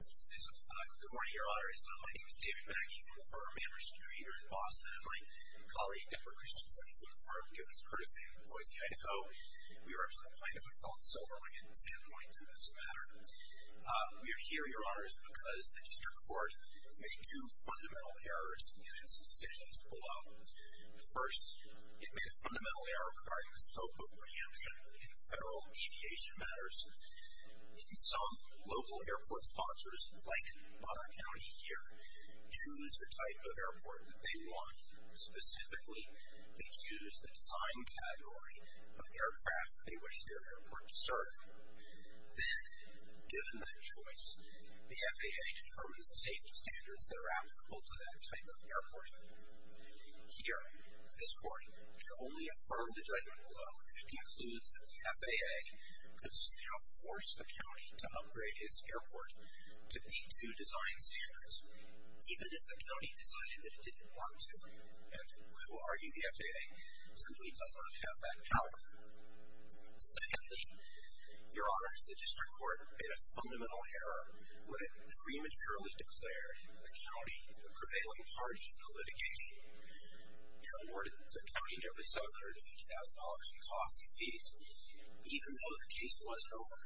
Good morning, Your Honors. My name is David Baggy from the firm Amberson Dreidler in Boston and my colleague Debra Christensen from the firm, given its courtesy, from Boise, Idaho. We represent the plaintiff and felon SilverWing at Sandpoint in this matter. We are here, Your Honors, because the district court made two fundamental errors in its decisions below. First, it made a fundamental error regarding the scope of preemption in federal deviation matters. In some local airport sponsors, like Bonner County here, choose the type of airport that they want. Specifically, they choose the design category of aircraft they wish their airport to serve. Then, given that choice, the FAA determines the safety standards that are applicable to that type of airport. Here, this court can only affirm the judgment below if it concludes that the FAA could somehow force the county to upgrade its airport to B-2 design standards, even if the county decided that it didn't want to. And I will argue the FAA simply does not have that power. Secondly, Your Honors, the district court made a fundamental error when it prematurely declared the county the prevailing party in the litigation. It awarded the county nearly $750,000 in costs and fees, even though the case wasn't over.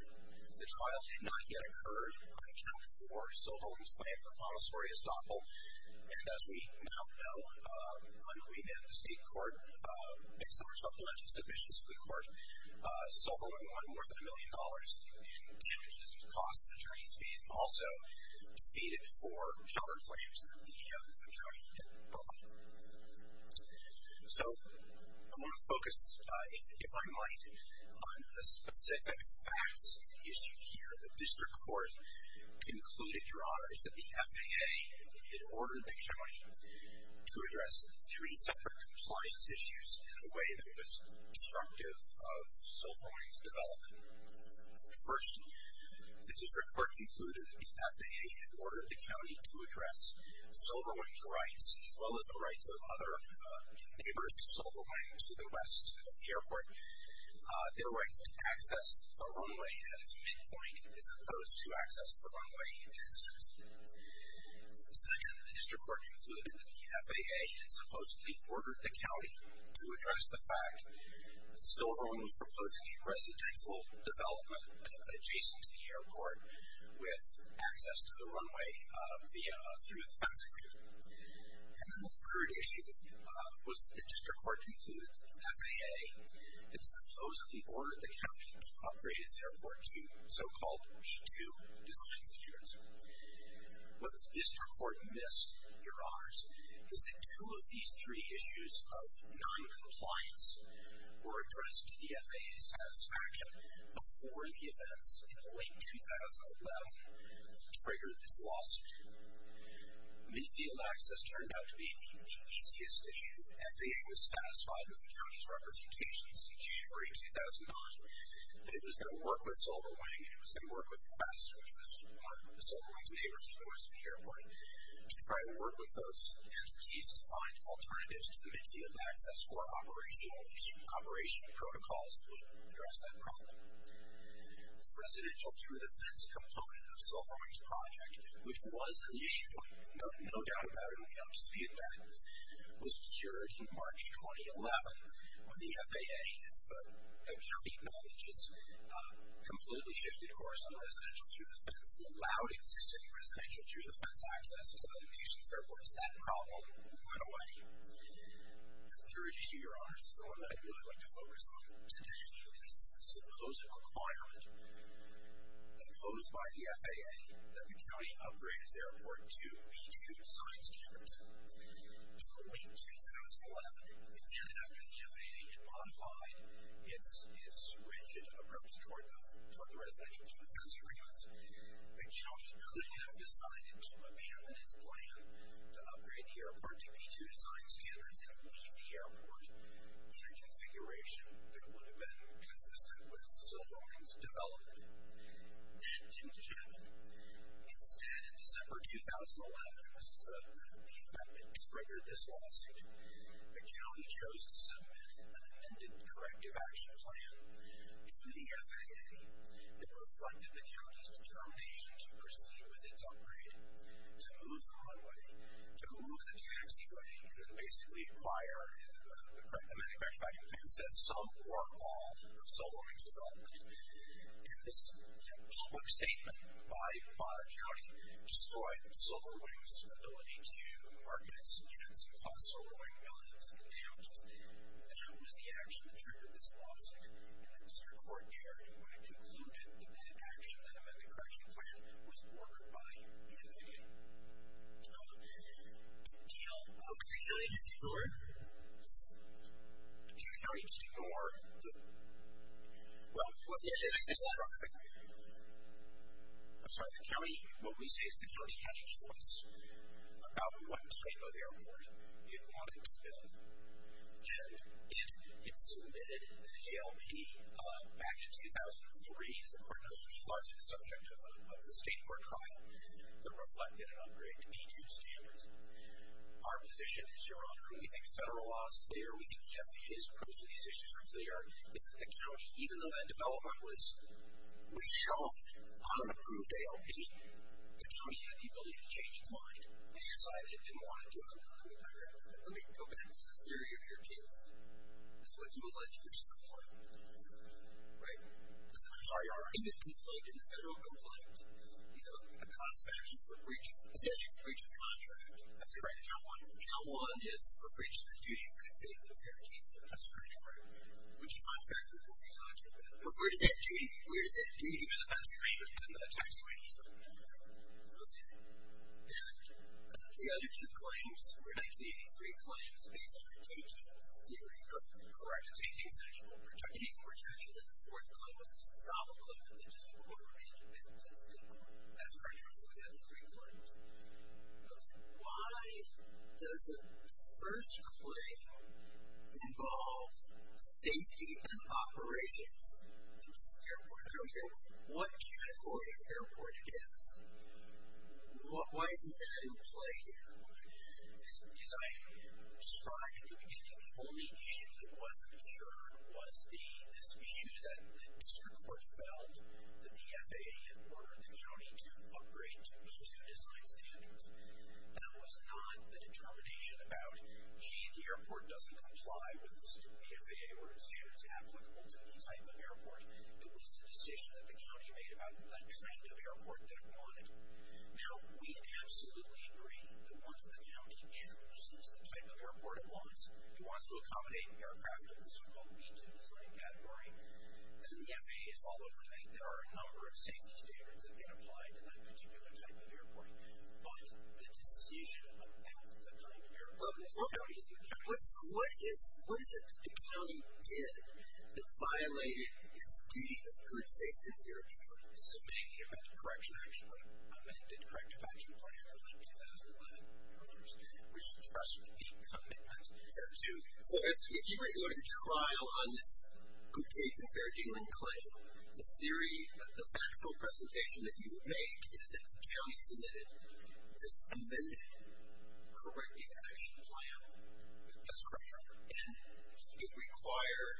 The trial did not yet occur on account for SilverWing's claim for promissory estoppel. And as we now know, on the way down to state court, based on our supplemental submissions to the court, SilverWing won more than a million dollars in damages and costs. The attorney's fees also defeated four counterclaims that the county had brought. So I want to focus, if I might, on a specific facts issue here. The district court concluded, Your Honors, that the FAA had ordered the county to address three separate compliance issues in a way that was disruptive of SilverWing's development. First, the district court concluded that the FAA had ordered the county to address SilverWing's rights, as well as the rights of other neighbors to SilverWing to the west of the airport. Their rights to access the runway at its midpoint, as opposed to access the runway in the instance. Second, the district court concluded that the FAA had supposedly ordered the county to address the fact that SilverWing was proposing a residential development adjacent to the airport with access to the runway through a fencing route. And then the third issue was that the district court concluded that the FAA had supposedly ordered the county to upgrade its airport to so-called V2 design standards. What the district court missed, Your Honors, is that two of these three issues of non-compliance were addressed to the FAA's satisfaction before the events in late 2011 triggered this lawsuit. Mid-field access turned out to be the easiest issue. FAA was satisfied with the county's representations in January 2009 that it was going to work with SilverWing, and it was going to work with FAST, which was one of SilverWing's neighbors to the west of the airport, to try to work with those entities to find alternatives to the mid-field access for operational, at least operation protocols that would address that problem. The residential-through-the-fence component of SilverWing's project, which was an issue, no doubt about it, we don't dispute that, was cured in March 2011 when the FAA, as the county acknowledged, completely shifted course on residential-through-the-fence. It allowed existing residential-through-the-fence access to the Houston's airports. That problem went away. The third issue, Your Honors, is the one that I'd really like to focus on today. This is a supposed requirement imposed by the FAA that the county upgrade its airport to B-2 design standards. In the week 2011, again after the FAA had modified its rigid approach toward the residential-through-the-fence agreements, the county could have decided to abandon its plan to upgrade the airport to B-2 design standards and leave the airport in a configuration that would have been consistent with SilverWing's development. That didn't happen. Instead, in December 2011, and this is the event that triggered this lawsuit, the county chose to submit an amended corrective action plan to the FAA that reflected the county's determination to proceed with its upgrade, to move the runway, to move the DMC runway, and to basically acquire, in the amended corrective action plan, some or all of SilverWing's development. This public statement by the county destroyed SilverWing's ability to market its units and cost SilverWing millions in damages. That was the action that triggered this lawsuit. Mr. Coordinator, do you want to conclude that that action, the amended correction plan, was ordered by the FAA? No. Did the county just ignore it? Did the county just ignore the, well, what we say is the county had a choice about what type of airport it wanted to build. And it submitted an ALP back in 2003, as the court knows, which is largely the subject of the state court trial, that reflected an upgrade to B-2 standards. Our position is, Your Honor, we think federal law is clear. We think the FAA's approach to these issues are clear. It's that the county, even though that development was shown on an approved ALP, the county had the ability to change its mind. And your side didn't want to do it. Let me go back to the theory of your case. It's what you allege your support. Right? I'm sorry. In the complaint, in the federal complaint, you have a cost of action for breaching, it says you can breach a contract. That's correct. Count one. Count one is for breaching the duty of good faith in a fair case. That's correct. Right. Which contract are we talking about? Where does that duty, where does that duty to the facts remain when it comes to tax evasion? Okay. And the other two claims were 1983 claims, based on the taking theory of corrective taking, so you were taking more action than the fourth claim, which was to stop a claim in the district court or an independent state court. That's correct. Those were the other three claims. Okay. Why does the first claim involve safety and operations in this airport? Okay. What category of airport is this? Why isn't that in play here? As I described at the beginning, the only issue that wasn't assured was this issue that the district court felt that the FAA had ordered the county to upgrade to B-2 design standards. That was not a determination about, gee, the airport doesn't comply with the FAA order standards applicable to any type of airport. It was the decision that the county made about that kind of airport that it wanted. Now, we absolutely agree that once the county chooses the type of airport it wants, it wants to accommodate an aircraft in the so-called B-2 design category. The FAA is all over that. There are a number of safety standards that get applied to that particular type of airport. But the decision about the kind of airport that the county is going to use. What is it that the county did that violated its duty of good faith and fair dealing? Submitting a corrective action plan. I meant a corrective action plan for like 2011. We should trust it to be a commitment to B-2. So if you were going to trial on this good faith and fair dealing claim, the theory, the factual presentation that you would make is that the county submitted this amended corrective action plan. That's correct, Your Honor. And it required,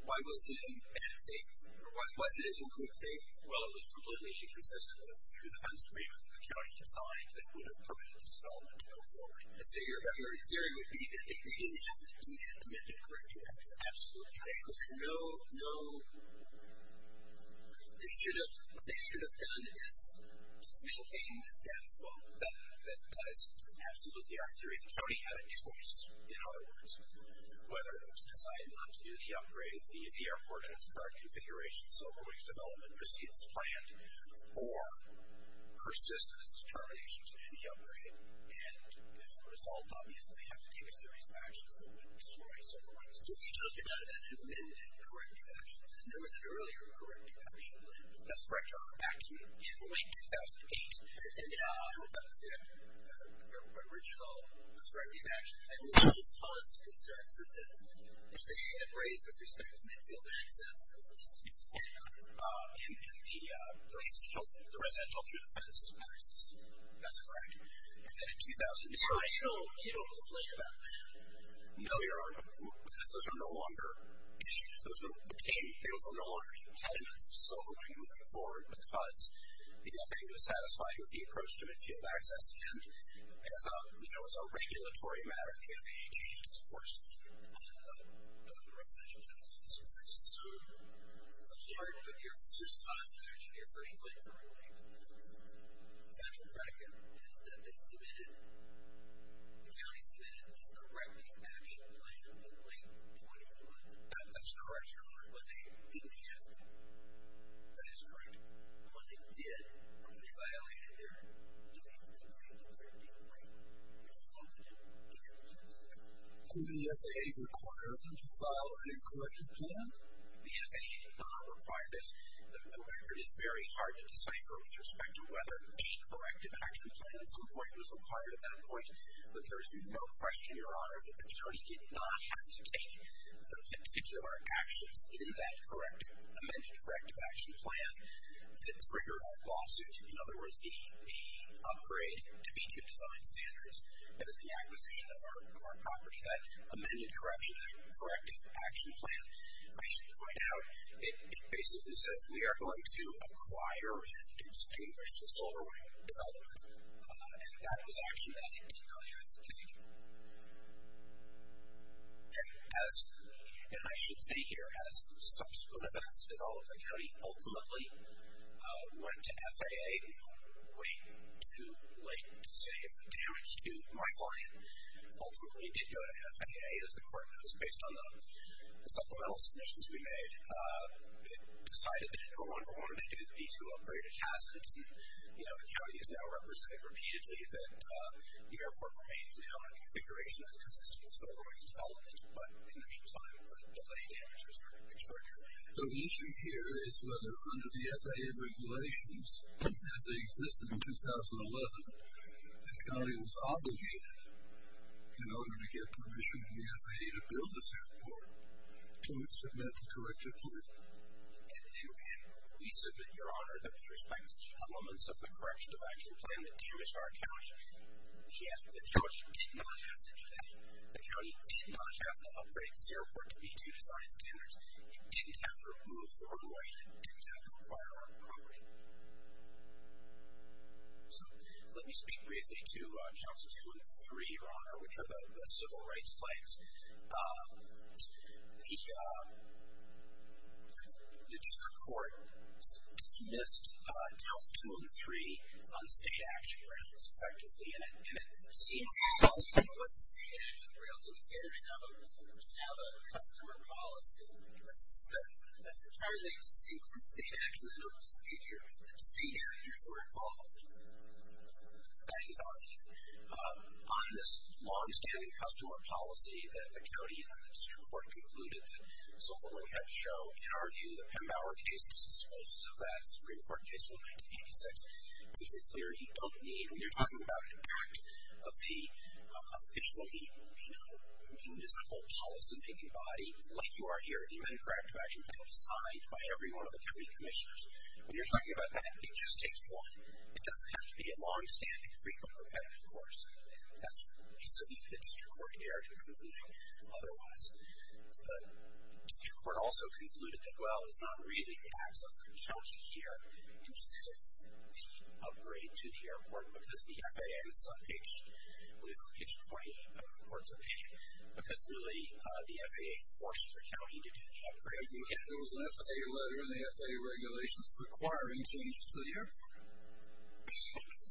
why was it in bad faith? Or was it in good faith? Well, it was completely inconsistent with the three defense amendments that the county had signed that would have permitted this development to go forward. So your theory would be that they didn't have to do that amended corrective action plan? Absolutely. No, no, they should have done this. Just maintain the status quo. That is absolutely our theory. The county had a choice, in other words, whether it was deciding not to do the upgrade, leave the airport in its current configuration, so avoid its development, proceed as planned, or persist in its determination to do the upgrade. And as a result, obviously, they have to take a series of actions that would destroy civil rights. So you're talking about an amended corrective action plan. There was an earlier corrective action plan. That's correct, Your Honor. Back in late 2008. And how about the original corrective action plan? This caused concerns that they had raised with respect to midfield access or distance in the residential through the fence access. That's correct. And then in 2009. Your Honor, you don't have to complain about that. No, Your Honor, because those are no longer issues. Those things are no longer impediments to civil rights moving forward because the FAA was satisfied with the approach to midfield access. And as a regulatory matter, the FAA changed its course on the residential tennis courts, for instance. So the heart of your first comment, actually, your first point, Your Honor, is that they submitted, the county submitted, this corrective action plan in late 2011. That's correct, Your Honor. When they didn't have to. That is correct. When they did, when they violated their duty of complaint in 2013, they just had to do it. So does the FAA require them to file a corrective plan? The FAA did not require this. The record is very hard to decipher with respect to whether a corrective action plan at some point was required at that point. But there is no question, Your Honor, that the county did not have to take the particular actions in that amended corrective action plan that triggered our lawsuit. In other words, the upgrade to B-2 design standards and then the acquisition of our property. That amended corrective action plan, I should point out, it basically says we are going to acquire and distinguish the solar wind development. And that was action that it did not have to take. And I should say here, as subsequent events developed, the county ultimately went to FAA way too late to save the damage to my client. Ultimately, it did go to FAA, as the court knows, based on the supplemental submissions we made. It decided that it no longer wanted to do the B-2 upgraded hazard. And, you know, the county has now represented repeatedly that the airport remains now in a configuration that is consistent with solar wind development. But in the meantime, the delay damages are extraordinary. So the issue here is whether under the FAA regulations, as they existed in 2011, the county was obligated, in order to get permission from the FAA to build this airport, to submit the corrective plan. And we submit, Your Honor, that with respect to elements of the corrective action plan that damaged our county, the county did not have to do that. The county did not have to upgrade this airport to B-2 design standards. It didn't have to remove the runway. It didn't have to acquire our property. So let me speak briefly to counts two and three, Your Honor, which are the civil rights claims. The district court dismissed counts two and three on state action grounds, effectively. And it seems... It wasn't state action grounds. It was getting rid of a customer policy. That's entirely distinct from state action. There's no dispute here that state actors were involved. That is obvious. On this long-standing customer policy that the county and the district court concluded that solar wind had to show, in our view, the Pembauer case, disposed of that Supreme Court case from 1986, gives it clear you don't need... When you're talking about an act of the officially, you know, municipal policy-making body, like you are here, the amendment to corrective action plan was signed by every one of the county commissioners. When you're talking about that, it just takes one. It doesn't have to be a long-standing, frequent, repetitive course. That's what we submit the district court here to concluding otherwise. The district court also concluded that, well, it's not really an act of the county here in terms of the upgrade to the airport, because the FAA is on page 28 of the court's opinion, because, really, the FAA forced the county to do the upgrade. There was an FAA letter in the FAA regulations requiring changes to the airport.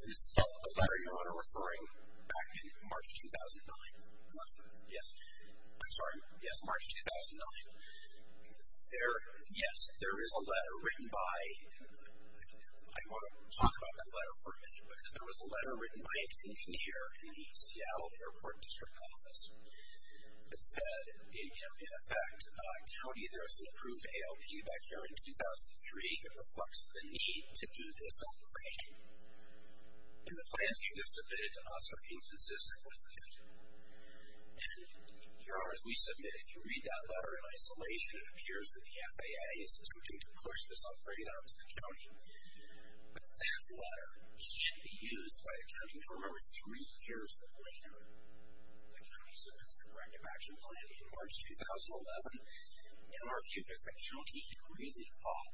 Is the letter you're referring back in March 2009? Yes. I'm sorry, yes, March 2009. Yes, there is a letter written by... I want to talk about that letter for a minute, because there was a letter written by an engineer in the Seattle Airport District Office that said, you know, in effect, county, there is an approved ALP back here in 2003 that reflects the need to do this upgrade. And the plans you just submitted to us are inconsistent with that. And here are, as we submit, if you read that letter in isolation, it appears that the FAA is attempting to push this upgrade onto the county. But that letter can be used by the county to remember three years later. The county submits the corrective action plan in March 2011. In our view, does the county really thought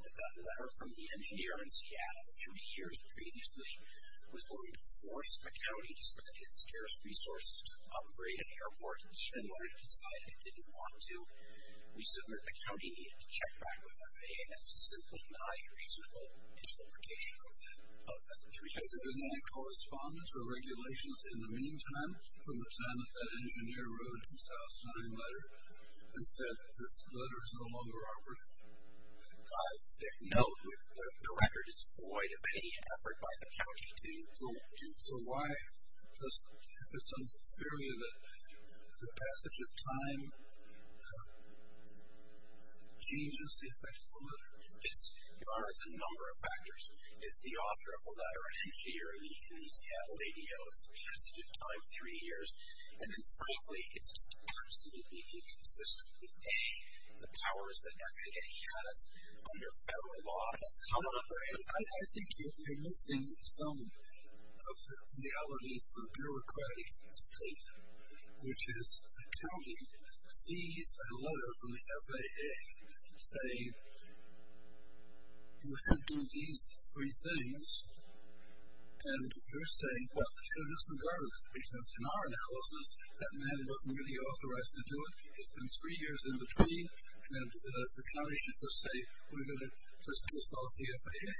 three years previously was going to force the county to spend its scarce resources to upgrade an airport in order to decide it didn't want to? The county needed to check back with the FAA as to simply deny reasonable interpretation of that three years ago. Has there been any correspondence or regulations in the meantime from the time that that engineer wrote a 2009 letter and said, this letter is no longer operative? No, the record is void of any effort by the county to... So why is there some theory that the passage of time changes the effect of the letter? There are a number of factors. Is the author of the letter an engineer who's had a radio as the passage of time three years? And then frankly, it's just absolutely inconsistent with A, the powers that FAA has under federal law to come up with... I think you're missing some of the realities of a bureaucratic state, which is the county sees a letter from the FAA saying you should do these three things, and you're saying, well, we should have disregarded that, because in our analysis, that man wasn't really authorized to do it. It's been three years in between, and the county should just say, we're going to piss off the FAA?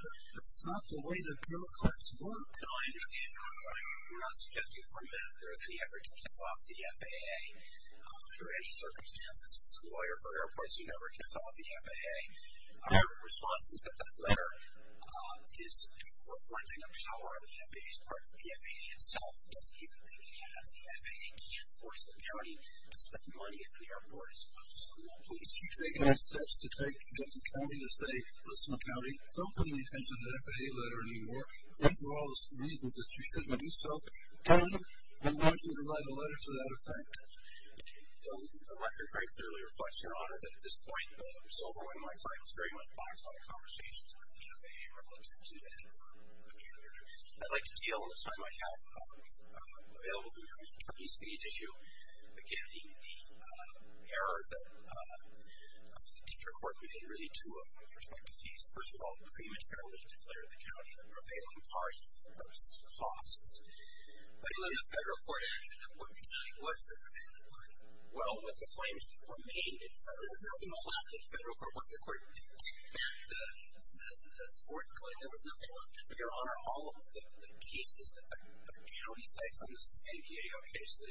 That's not the way the bureaucrats work. No, I understand your point. We're not suggesting for a minute that there's any effort to piss off the FAA. Under any circumstances, it's a lawyer for airports who never piss off the FAA. Our response is that that letter is for flouting the power of the FAA's part. The FAA itself doesn't even think it has. The FAA can't force the county to spend money at the airport as opposed to someone who is using it. So we're taking steps to take the county to say, listen, county, don't pay any attention to the FAA letter anymore. These are all the reasons that you shouldn't do so, and we want you to write a letter to that effect. The record very clearly reflects, Your Honor, that at this point, Silverwood and my client was very much biased on the conversation to the FAA relative to the FAA. I'd like to deal, as I might have available to you, these fees issue, again, the error that the district court made in really two of those respective fees. First of all, prematurely declared the county the prevailing party for purposes of costs. But even the federal court actually wouldn't deny it was the prevailing party. Well, with the claims that remained in federal, there was nothing left in federal court once the court took back the fourth claim. There was nothing left. Your Honor, all of the cases that the county cites from the San Diego case that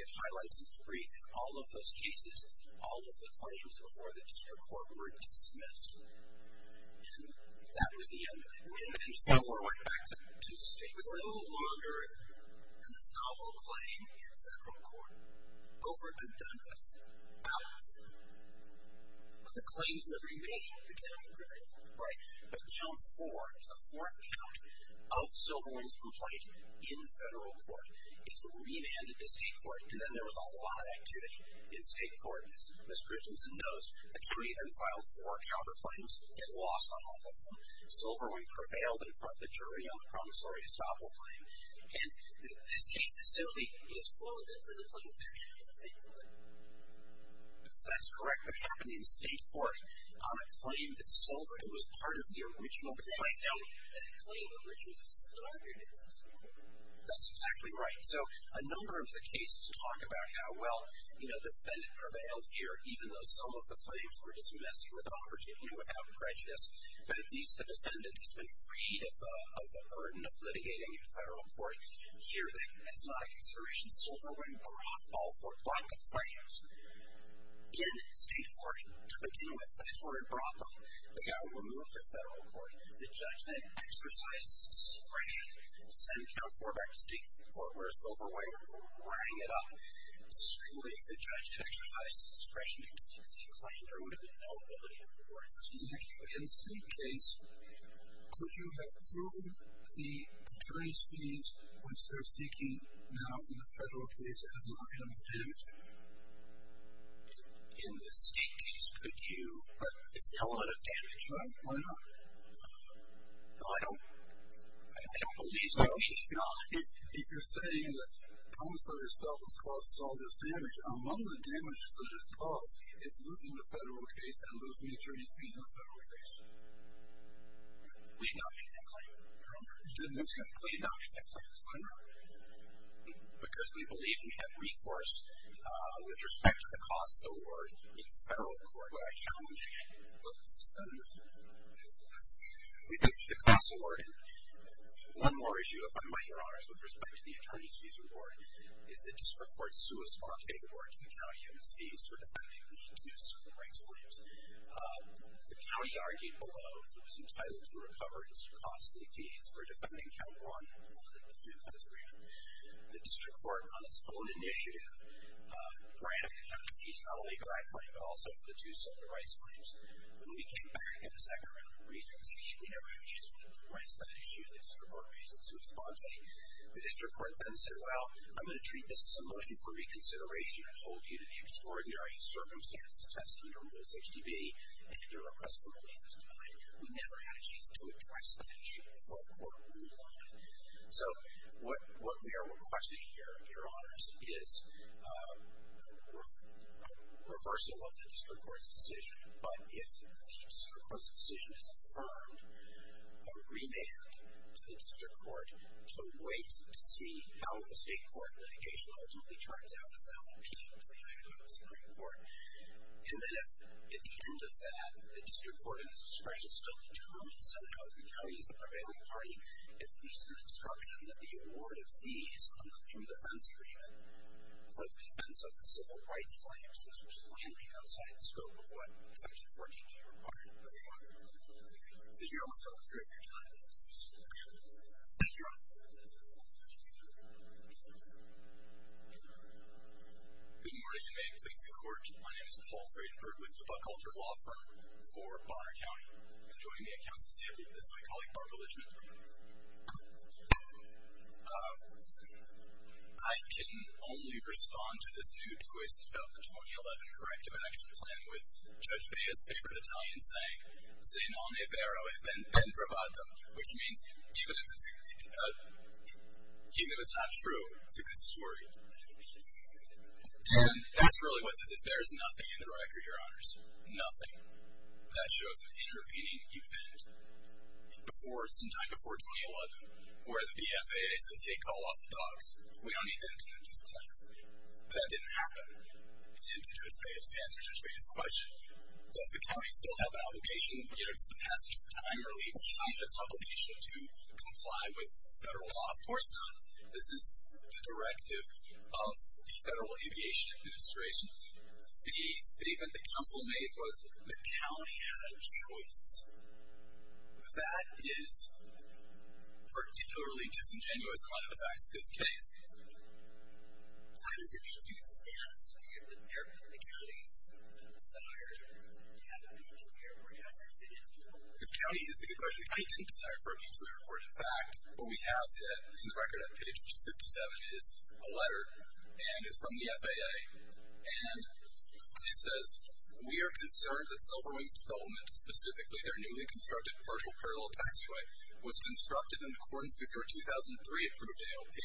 it highlights in its brief, in all of those cases, all of the claims before the district court were dismissed. And that was the end of it. And Silverwood went back to state. It was no longer a solvable claim in federal court. Over and done with. Out of the claims that remained, the county prevailed, right? But count four, the fourth count of Silverwood's complaint in federal court is remanded to state court. And then there was a lot of activity in state court. And as Ms. Christensen knows, the county then filed four counterclaims and lost on all of them. Silverwood prevailed in front of the jury on the promissory estoppel claim. And this case is simply misquoted for the claims that remained in state court. That's correct. What happened in state court, on a claim that Silverwood was part of the original claim. No, that claim originally started in state court. That's exactly right. So a number of the cases talk about how well the defendant prevailed here, even though some of the claims were dismissed with opportunity, without prejudice. But at least the defendant has been freed of the burden of litigating in federal court. Here, that's not a consideration. Silverwood brought all four counterclaims in state court to begin with. That's where it brought them. They got them removed from federal court. The judge then exercised his discretion to send count four back to state court, where Silverwood rang it up. If the judge had exercised his discretion to dismiss the claim, there would have been no ability to report it. In the state case, could you have proven the attorney's fees, which they're seeking now in the federal case, as an item of damage? In the state case, could you? But it's an element of damage. Why not? No, I don't believe so. If you're saying the promissory statement caused all this damage, among the damages that it's caused is losing the federal case and losing attorney's fees in the federal case. We did not make that claim. You remember? We did not make that claim. I remember. Because we believed we had recourse with respect to the costs award in federal court by challenging it. We thank you for the class award. One more issue, if I might, Your Honors, with respect to the attorney's fees award is the district court's suicide award to the county and its fees for defending the two silver rights claims. The county argued below that it was entitled to recover its costly fees for defending count one, which included the three defense agreements. The district court, on its own initiative, granted the county fees, not only for that claim, but also for the two silver rights claims. When we came back in the second round of briefings, we never had a chance to address that issue. The district court raised its response. The district court then said, well, I'm going to treat this as a motion for reconsideration and hold you to the extraordinary circumstances testing your rules HDB and your request for release this time. We never had a chance to address that issue before the court ruled on it. So what we are requesting here, Your Honors, is a reversal of the district court's decision. But if the district court's decision is affirmed, a remand to the district court to wait to see how the state court litigation ultimately turns out as an LMP to the Idaho Supreme Court. And then if, at the end of that, the district court in its discretion still determines somehow that the county is the prevailing party, at least an instruction that the award of fees on the through defense agreement for the defense of the civil rights claims which was landing outside the scope of what Section 14G required of the law, that you're off to a greater time to pursue the remand. Thank you, Your Honor. Good morning, and may it please the court. My name is Paul Friedenberg with the Buck Culture Law Firm for Bonner County. And joining me at counsel's table is my colleague Barbara Lichman. Thank you. I can only respond to this new twist about the 2011 corrective action plan with Judge Bea's favorite Italian saying, Sennone vero evento provato, which means, even if it's not true, it's a good story. And that's really what this is. There is nothing in the record, Your Honors, nothing that shows an intervening event before, sometime before 2011, where the BFAA says, hey, call off the dogs. We don't need to intervene in these claims. But that didn't happen. And to answer Judge Bea's question, does the county still have an obligation in regards to the passage of the time or leave behind its obligation to comply with federal law? Of course not. This is the directive of the Federal Aviation Administration. The statement that counsel made was, the county had a choice. That is particularly disingenuous in light of the facts of this case. How does the B2 status appear that the county's desire to have a B2 airport has been fulfilled? The county is a good question. The county didn't desire for a B2 airport. In fact, what we have in the record on page 257 is a letter, and it's from the FAA, and it says, we are concerned that Silver Wing's development, specifically their newly constructed partial parallel taxiway, was constructed in accordance with your 2003 approved ALP.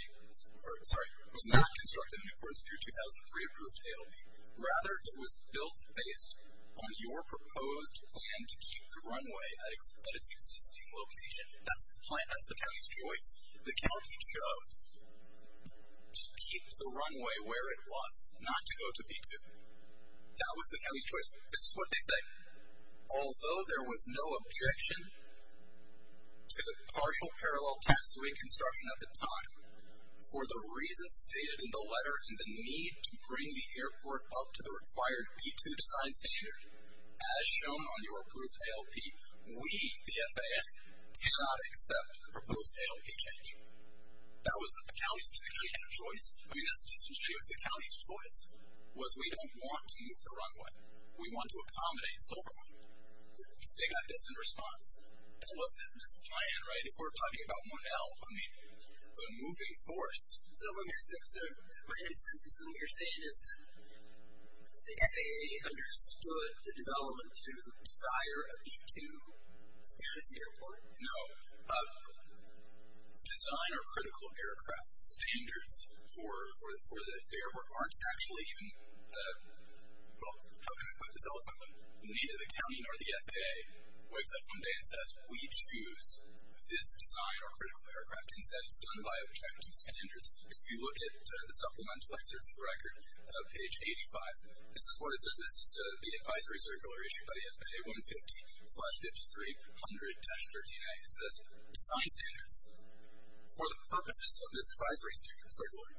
Sorry, was not constructed in accordance with your 2003 approved ALP. Rather, it was built based on your proposed plan to keep the runway at its existing location. That's the county's choice. The county chose to keep the runway where it was, not to go to B2. That was the county's choice. This is what they say. Although there was no objection to the partial parallel taxiway construction at the time, for the reasons stated in the letter and the need to bring the airport up to the required B2 design standard, as shown on your approved ALP, we, the FAA, cannot accept the proposed ALP change. That was the county's, the county had a choice. I mean, that's disingenuous. That was the county's choice, was we don't want to move the runway. We want to accommodate Silverman. They got this in response. That was the plan, right? If we're talking about one ALP, I mean, the moving force. So what you're saying is that the FAA understood the development to desire a B2 standard at the airport? No. Design of critical aircraft standards for the airport aren't actually even, well, how can I put this? Neither the county nor the FAA wakes up one day and says, we choose this design or critical aircraft. Instead, it's done by a B2 standard. If you look at the supplemental excerpts of the record, page 85, this is what it says. This is the advisory circular issued by the FAA, 150-5300-13A. It says, design standards. For the purposes of this advisory circular,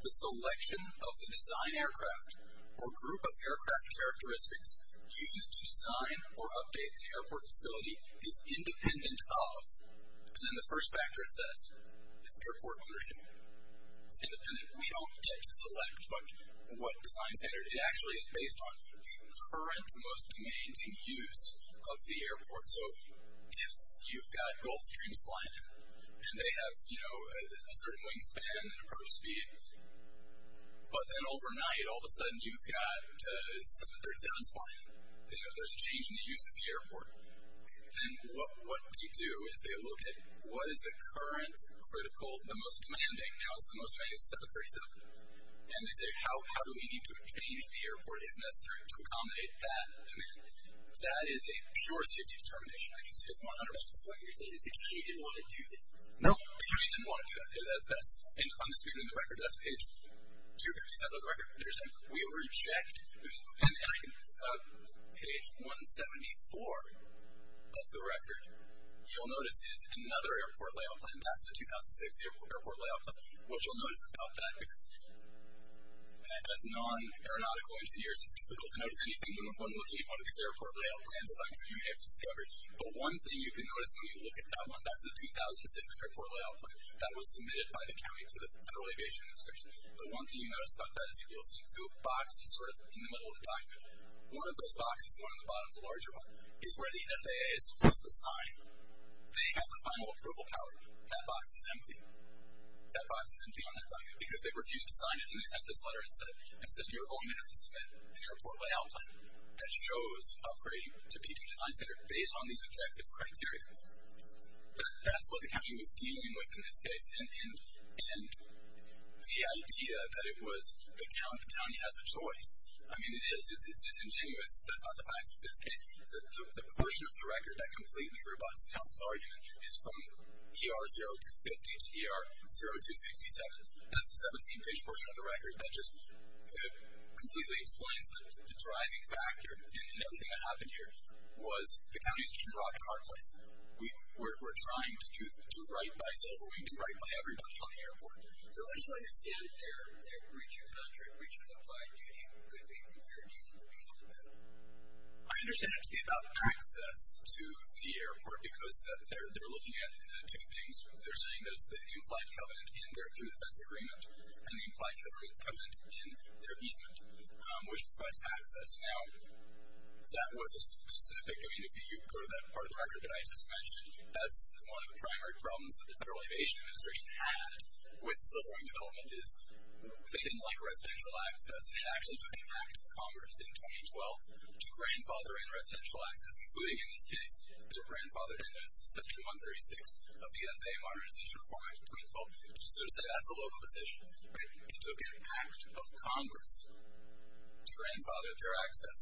the selection of the design aircraft or group of aircraft characteristics used to design or update an airport facility is independent of, and then the first factor it says is airport ownership. It's independent. We don't get to select what design standard. It actually is based on current most demand and use of the airport. So if you've got Gulfstreams flying and they have a certain wingspan and approach speed, but then overnight, all of a sudden, you've got 737s flying. There's a change in the use of the airport. Then what we do is they look at what is the current critical, the most demanding, now it's the most demanding is the 737. And they say, how do we need to change the airport if necessary to accommodate that demand? That is a pure safety determination. I can see there's 100% split here. The county didn't want to do that. No, the county didn't want to do that. I'm speaking of the record. That's page 257 of the record. We reject, and I can, page 174 of the record, you'll notice is another airport layout plan. That's the 2006 airport layout plan. What you'll notice about that is as non-aeronautical into the years, it's difficult to notice anything when looking at one of these airport layout plans that you may have discovered. But one thing you can notice when you look at that one, that's the 2006 airport layout plan that was submitted by the county to the Federal Aviation Administration. The one thing you notice about that is you'll see two boxes in the middle of the document. One of those boxes, the one on the bottom, the larger one, is where the FAA is supposed to sign. They have the final approval power. That box is empty. That box is empty on that document because they refused to sign it, and they sent this letter and said, you're only going to have to submit an airport layout plan that shows operating to P2 Design Center based on these objective criteria. That's what the county was dealing with in this case, and the idea that it was, the county has a choice. I mean, it is, it's disingenuous. That's not the facts of this case. The portion of the record that completely rebuts the council's argument is from ER 0250 to ER 0267. That's the 17-page portion of the record that just completely explains the driving factor in everything that happened here was the county's too broad a car place. We're trying to write by silverwing, to write by everybody on the airport. So I just don't understand their breach of contract, breach of the applied duty. Could they be fair dealing to be on the memo? I understand it to be about access to the airport because they're looking at two things. They're saying that it's the implied covenant in their true defense agreement, and the implied covenant in their easement, which provides access. Now, that was a specific, I mean, if you go to that part of the record that I just mentioned, that's one of the primary problems that the Federal Aviation Administration had with silverwing development is they didn't like residential access, and it actually took an act of Congress in 2012 to grandfather in residential access, including in this case, it grandfathered in section 136 of the FAA Modernization Reform Act 2012. So to say that's a local decision. It took an act of Congress to grandfather their access.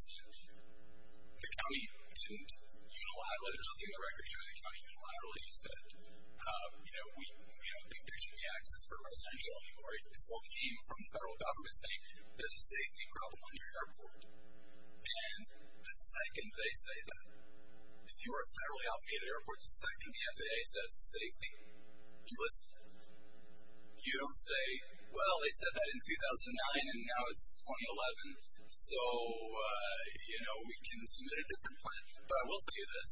The county didn't unilaterally, there's nothing in the record showing the county unilaterally said, we don't think there should be access for residential anymore. It all came from the federal government saying there's a safety problem on your airport. And the second they say that, if you're a federally-automated airport, the second the FAA says safety, you listen. You don't say, well, they said that in 2009, and now it's 2011, so, you know, we can submit a different plan. But I will tell you this.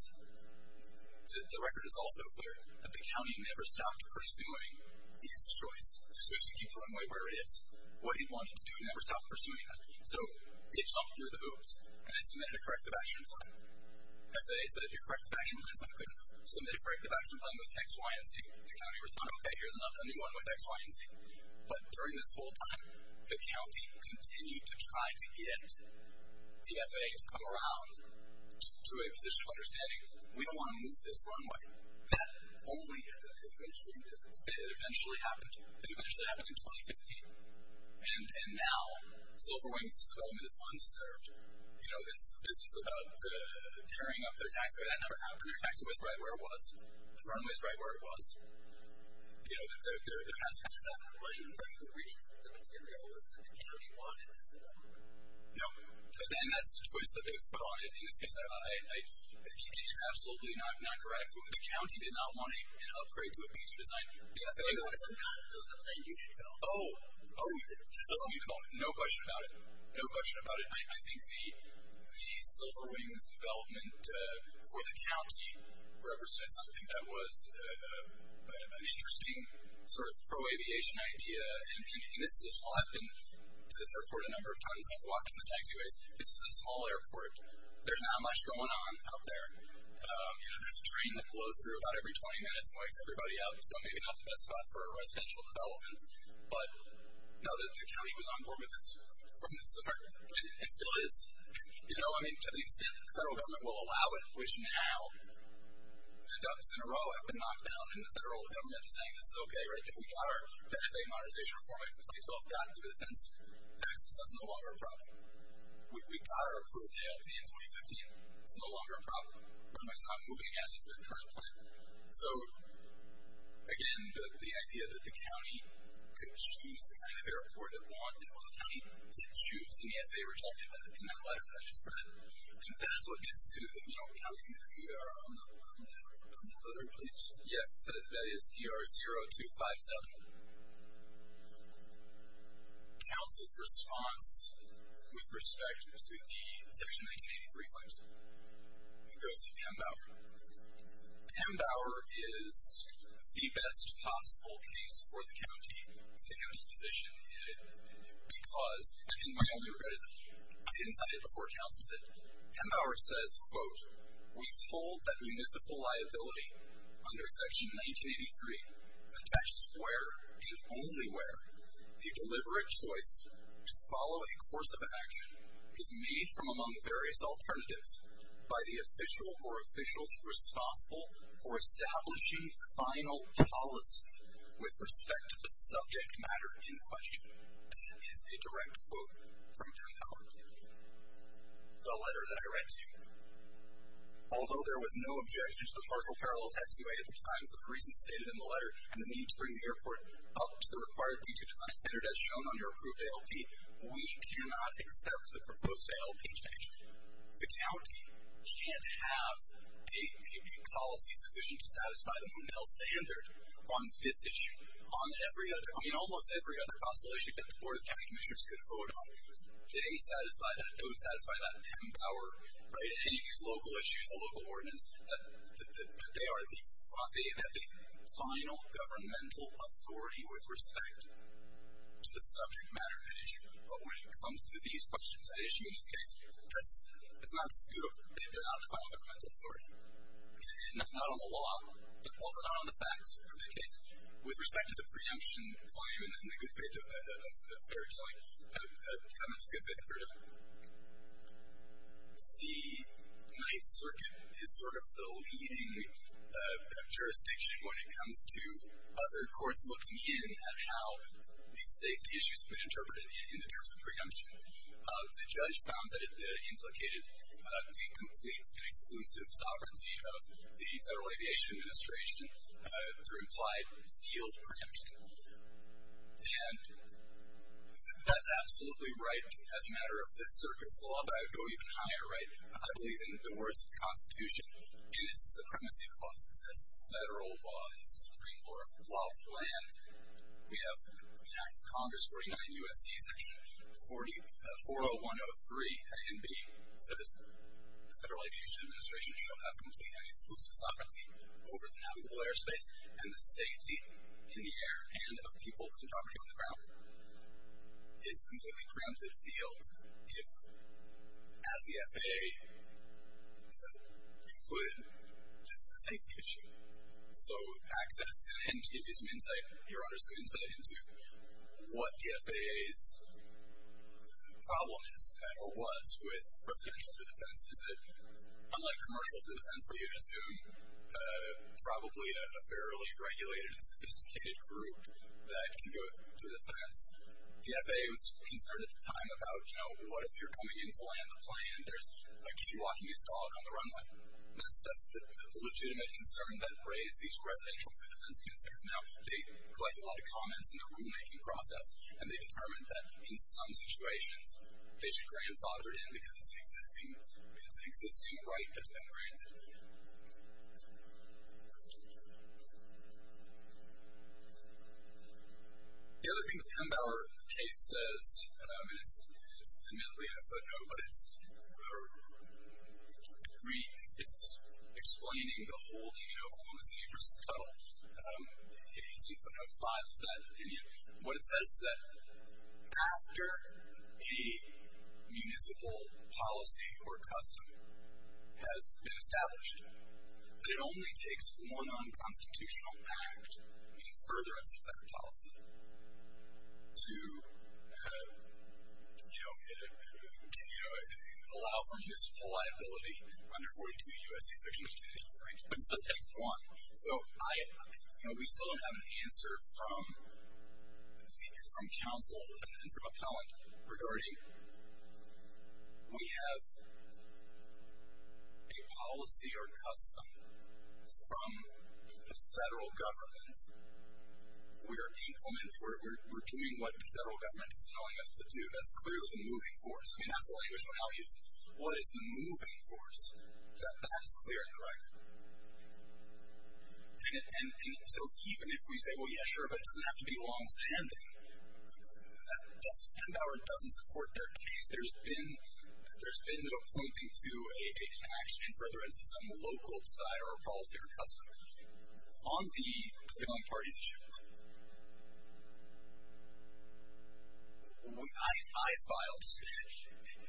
The record is also clear that the county never stopped pursuing its choice, to keep the runway where it is. What it wanted to do, it never stopped pursuing that. So it jumped through the hoops, and it submitted a corrective action plan. FAA said if your corrective action plan is not good enough, submit a corrective action plan with X, Y, and Z. The county responded, okay, here's a new one with X, Y, and Z. But during this whole time, the county continued to try to get the FAA to come around to a position of understanding, we don't want to move this runway. That only ended up eventually happening in 2015. And now, Silver Wing's development is undisturbed. You know, this business about tearing up their taxiway, that never happened. Their taxiway's right where it was. The runway's right where it was. You know, there has been that. What I'm reading from the material is that the county wanted this development. No, but then that's the choice that they've put on it in this case. It is absolutely not correct. The county did not want an upgrade to a B2 design. It was a planned unit, though. Oh, no question about it. No question about it. I think the Silver Wing's development for the county represented something that was an interesting sort of pro-aviation idea. And this is a spot, and I've been to this airport a number of times. I've walked in the taxiways. This is a small airport. There's not much going on out there. You know, there's a train that blows through about every 20 minutes and wakes everybody out. So maybe not the best spot for a residential development. But, no, the county was on board with this from the start. It still is. You know, I mean, to the extent that the federal government will allow it, which now the ducks in a row have been knocked down and the federal government is saying, this is okay, right? We got our FAA modernization reform act of 2012 gotten through the fence. That's no longer a problem. We got our approved AFP in 2015. It's no longer a problem. It's not moving against the internal plan. So, again, the idea that the county could choose the kind of airport it wanted while the county didn't choose and the FAA rejected that in that letter that I just read. I think that's what gets to, you know, counting the ER on the other page. Yes, that is ER 0257. Council's response with respect to the section 1983 claims. It goes to Pembauer. Pembauer is the best possible case for the county's position because, and my only regret is I didn't cite it before council did. Pembauer says, quote, we hold that municipal liability under section 1983 attached to where and only where the deliberate choice to follow a course of action is made from among various alternatives by the official or officials responsible for establishing final policy with respect to the subject matter in question. That is a direct quote from Pembauer. The letter that I read to you. Although there was no objection to the partial parallel tax way at the time for the reasons stated in the letter and the need to bring the airport up to the required B2 design standard as shown on your approved ALP, we cannot accept the proposed ALP change. The county can't have a policy sufficient to satisfy the Monell standard on this issue. On every other, I mean almost every other possible issue that the board of county commissioners could vote on, they would satisfy that Pembauer, right, any of these local issues of local ordinance, that they are the final governmental authority with respect to the subject matter at issue. But when it comes to these questions at issue in this case, it's not disputable. They're not the final governmental authority. And not on the law, but also not on the facts of the case. With respect to the preemption claim and the good faith of fair doing, comments of good faith and fair doing, the 9th Circuit is sort of the leading jurisdiction when it comes to other courts looking in at how these safety issues have been interpreted in the terms of preemption. The judge found that it implicated the complete and exclusive sovereignty of the Federal Aviation Administration through implied field preemption. And that's absolutely right as a matter of this circuit's law, but I would go even higher, right. I believe in the words of the Constitution, and it's a supremacy clause that says federal law is the supreme law of the land. We have an Act of Congress 49 U.S.C. section 40103 A and B says the Federal Aviation Administration shall have complete and exclusive sovereignty over the navigable airspace and the safety in the air and of people and property on the ground. It's completely preempted field if as the FAA concluded this is a safety issue. So access and to give you some insight, your understood insight into what the FAA's problem is, or was, with residential through the fence is that unlike commercial through the fence where you'd assume probably a fairly regulated and sophisticated group that can go through the fence, the FAA was concerned at the time about, you know, what if you're coming in to land the plane and there's a key walking his dog on the runway. That's the legitimate concern that raised these residential through the fence concerns. Now, they collect a lot of comments in the rulemaking process and they determined that in some situations, they should grandfather it in because it's an existing right that's been granted. The other thing the Hembauer case says, and it's admittedly a footnote, but it's or it's explaining the whole, you know, Oklahoma City versus Tuttle. It's in five of that opinion. What it says is that after a municipal policy or custom has been established, that it only takes one unconstitutional act in furtherance of that policy to you know, allow for municipal liability under 42 U.S.C. Section 1883, but it still takes one. So, I, you know, we still have an answer from from counsel and from appellant regarding we have a policy or custom from the federal government we are implementing, we're doing what the federal government is telling us to do. That's clearly the moving force. I mean, that's the language Mahal uses. What is the moving force? That is clear in the record. And so even if we say, well, yeah, sure, but it doesn't have to be long-standing, that doesn't, Hembauer doesn't support their case. There's been there's been no pointing to an action in furtherance of some local desire or policy or custom on the I filed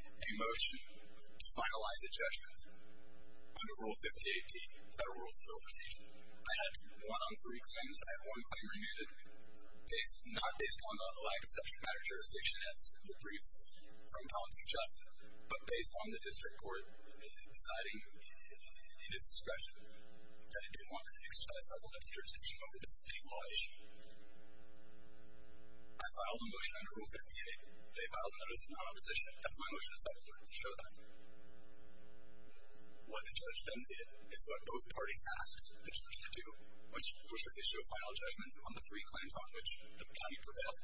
a motion to finalize a judgment under Rule 58D Federal Rule of Civil Procedure. I had one on three claims. I had one claim remanded, not based on the lack of subject matter jurisdiction as the briefs from Appellant suggested, but based on the district court deciding in its discretion that it didn't want to exercise supplemental jurisdiction over the city law issue. I filed a motion under Rule 58. They filed a notice of non-opposition. That's my motion of settlement to show that what the judge then did is what both parties asked the judge to do, which was issue a final judgment on the three claims on which the county prevailed.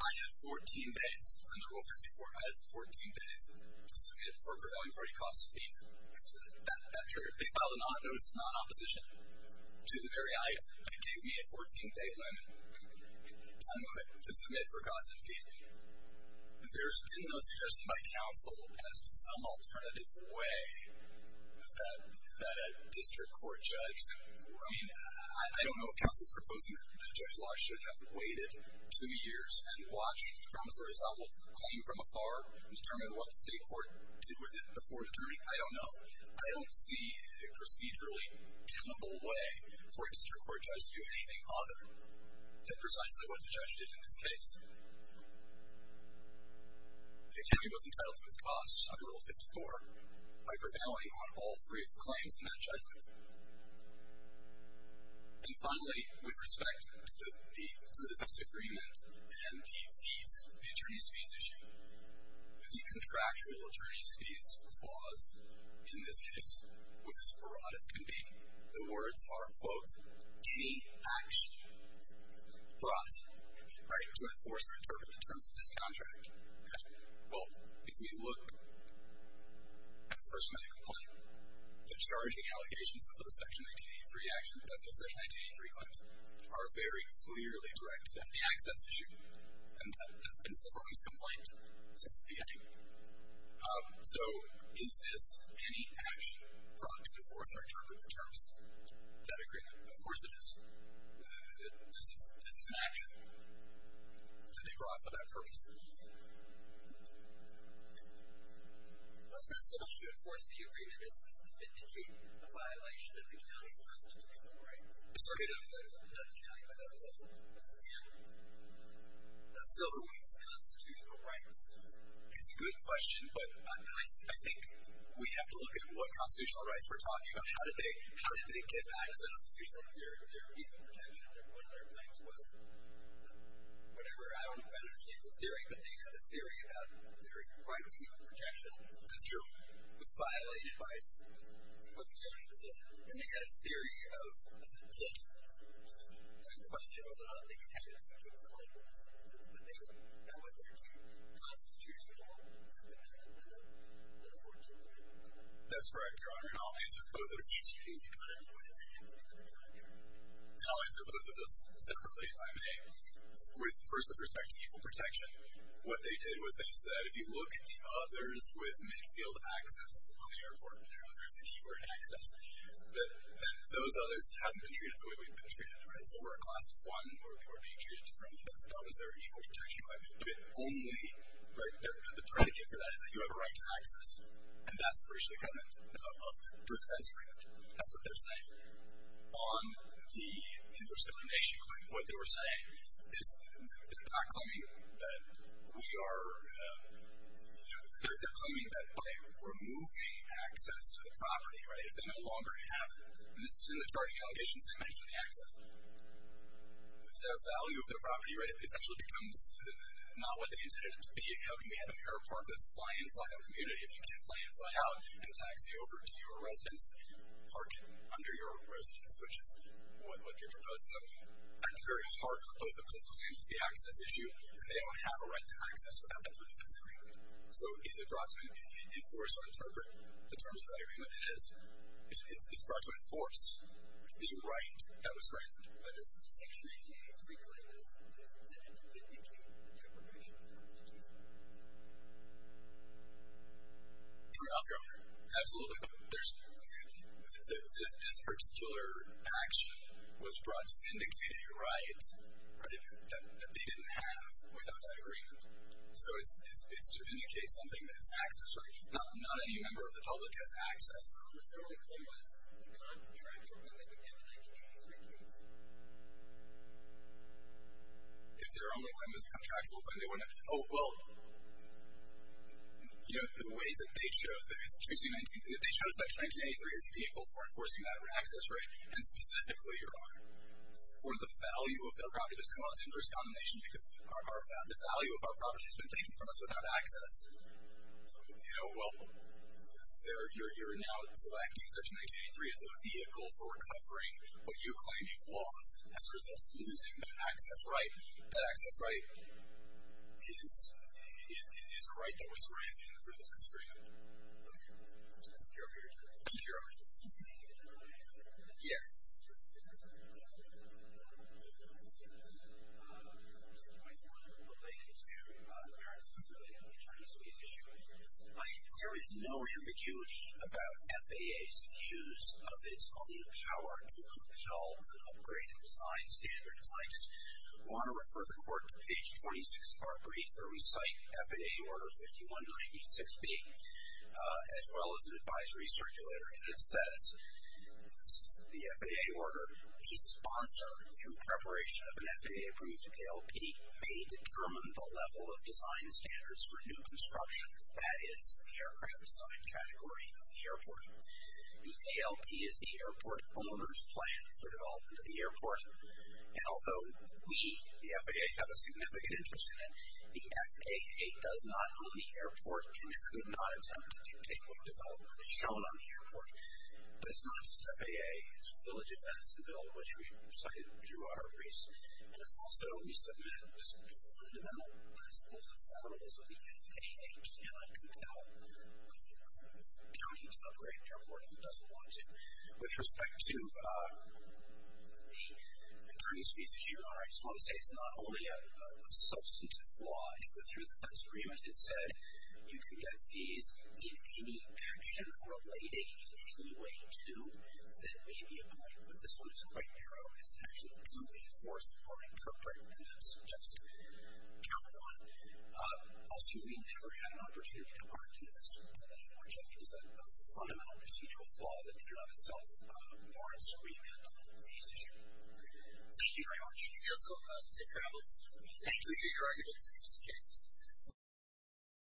I had 14 days under Rule 54. I had 14 days to submit for prevailing party cost fees. They filed a notice of non-opposition to the very item. It gave me a 14-day limit to submit for cost and fees. There's been no suggestion by counsel as to some alternative way that a district court judge I mean, I don't know if counsel's proposing that the judge's law should have waited two years and watched the promissory estoppel come from afar and determine what the state court did with it before determining. I don't know. I don't see a procedurally doable way for a district court judge to do anything other than precisely what the judge did in this case. The county was entitled to its costs under Rule 54 by prevailing on all three claims in that judgment. And finally, with respect to the defense agreement and the fees, the attorney's fees issue, the contractual attorney's flaws in this case was as broad as can be. The words are, quote, any action brought, right, to enforce or interpret in terms of this contract. Well, if we look at the first medical claim, the charging allegations of those Section 1983 actions, of those Section 1983 claims, are very clearly directed at the access issue. And that's been Silverlee's complaint since the beginning. So, is this any action brought to enforce or interpret the terms of that agreement? Of course it is. This is an action that they brought for that purpose. Well, it's not so much to enforce the agreement, it's just to vindicate a violation of the county's constitutional rights. It's okay to look at a county by that level. Silverlee's constitutional rights is a good question, but I think we have to look at what constitutional rights we're talking about. How did they get access to some of their even projections? One of their claims was whatever, I don't know if I understand the theory, but they had a theory about their right to even projection construed was violated by someone, what the county did. And they had a theory of killing themselves. It's a good question, although I don't think it had anything to do with killing themselves. But that was their constitutional system, and they didn't enforce it. That's correct, Your Honor, and I'll answer both of those. Excuse me, but I don't know what is the answer to that, Your Honor. And I'll answer both of those separately, if I may. First, with respect to equal protection, what they did was they said, if you look at the others with mid-field access on the airport, there's the keyword access, those others haven't been treated the way we've been treated. So we're a class of one, or we're being treated differently, that's about what their equal protection claim is. But only, right, the predicate for that is that you have a right to access, and that's the racial equivalent of professing it. That's what they're saying. On the infestation claim, what they were saying is they're not claiming that we are, you know, they're claiming that by removing access to the property, right, if they no longer have it, and this is in the charging allegations, they mentioned the access, their value of their property, right, essentially becomes not what they intended it to be. How can you have an airport that's fly-in, fly-out community if you can't fly-in, fly-out and taxi over to your residence and park it under your residence, which is what they're proposing. At the very heart of the coastal claims is the access issue, and they don't have a right to access without that sort of defense agreement. So is it brought to enforce or interpret the terms of that agreement? It is. It's brought to enforce the right that was granted. Absolutely. There's this particular action was brought to indicate a right that they didn't have without that agreement. So it's to indicate something that's access, right? Not any member of the public has a contractual claim that they can have in 1983 case. If their only claim was a contractual claim, they wouldn't have. Oh, well, you know, the way that they chose, they chose Section 1983 as a vehicle for enforcing that access right, and specifically, Your Honor, for the value of their property, well, it's an interest combination because the value of our property has been taken from us without access. So, you know, well, you're now selecting Section 1983 as the vehicle for recovering what you claim you've lost as a result of losing that access right. That access right is a right that was granted in the privilege agreement. Okay. Thank you, Your Honor. Thank you, Your Honor. Yes. Yes. There is no ambiguity about FAA's use of its own power to compel an upgrade in design standards. I just want to refer the Court to page 26 of our brief where we cite FAA Order 5196B as well as an advisory circulator and it says, this is the FAA Order, a sponsor, through preparation of an FAA-approved ALP, may determine the level of design standards for new construction, that is, the aircraft design category of the airport. The ALP is the airport owner's plan for development of the airport, and although we, the FAA, have a significant interest in it, the FAA does not own the airport and should not attempt to dictate what development is shown on the airport. But it's not just FAA, it's Village Advancement Bill, which we cited through our briefs, and it's also, we submit fundamental principles of federalism that the FAA cannot compel a county to upgrade an airport if it doesn't want to. With respect to the attorney's fees issue, Your Honor, I just want to say it's not only a substantive flaw. If the through defense agreement had said you can get fees in any action relating in any way to, that may be a point, but this one is quite narrow as actually to enforce or interpret, and that's just count one. Also, we never had an opportunity to argue this, which I think is a fundamental procedural flaw that in and of itself warrants remand on the fees issue. Thank you very much. You're welcome. Safe travels. We appreciate your arguments. Thank you.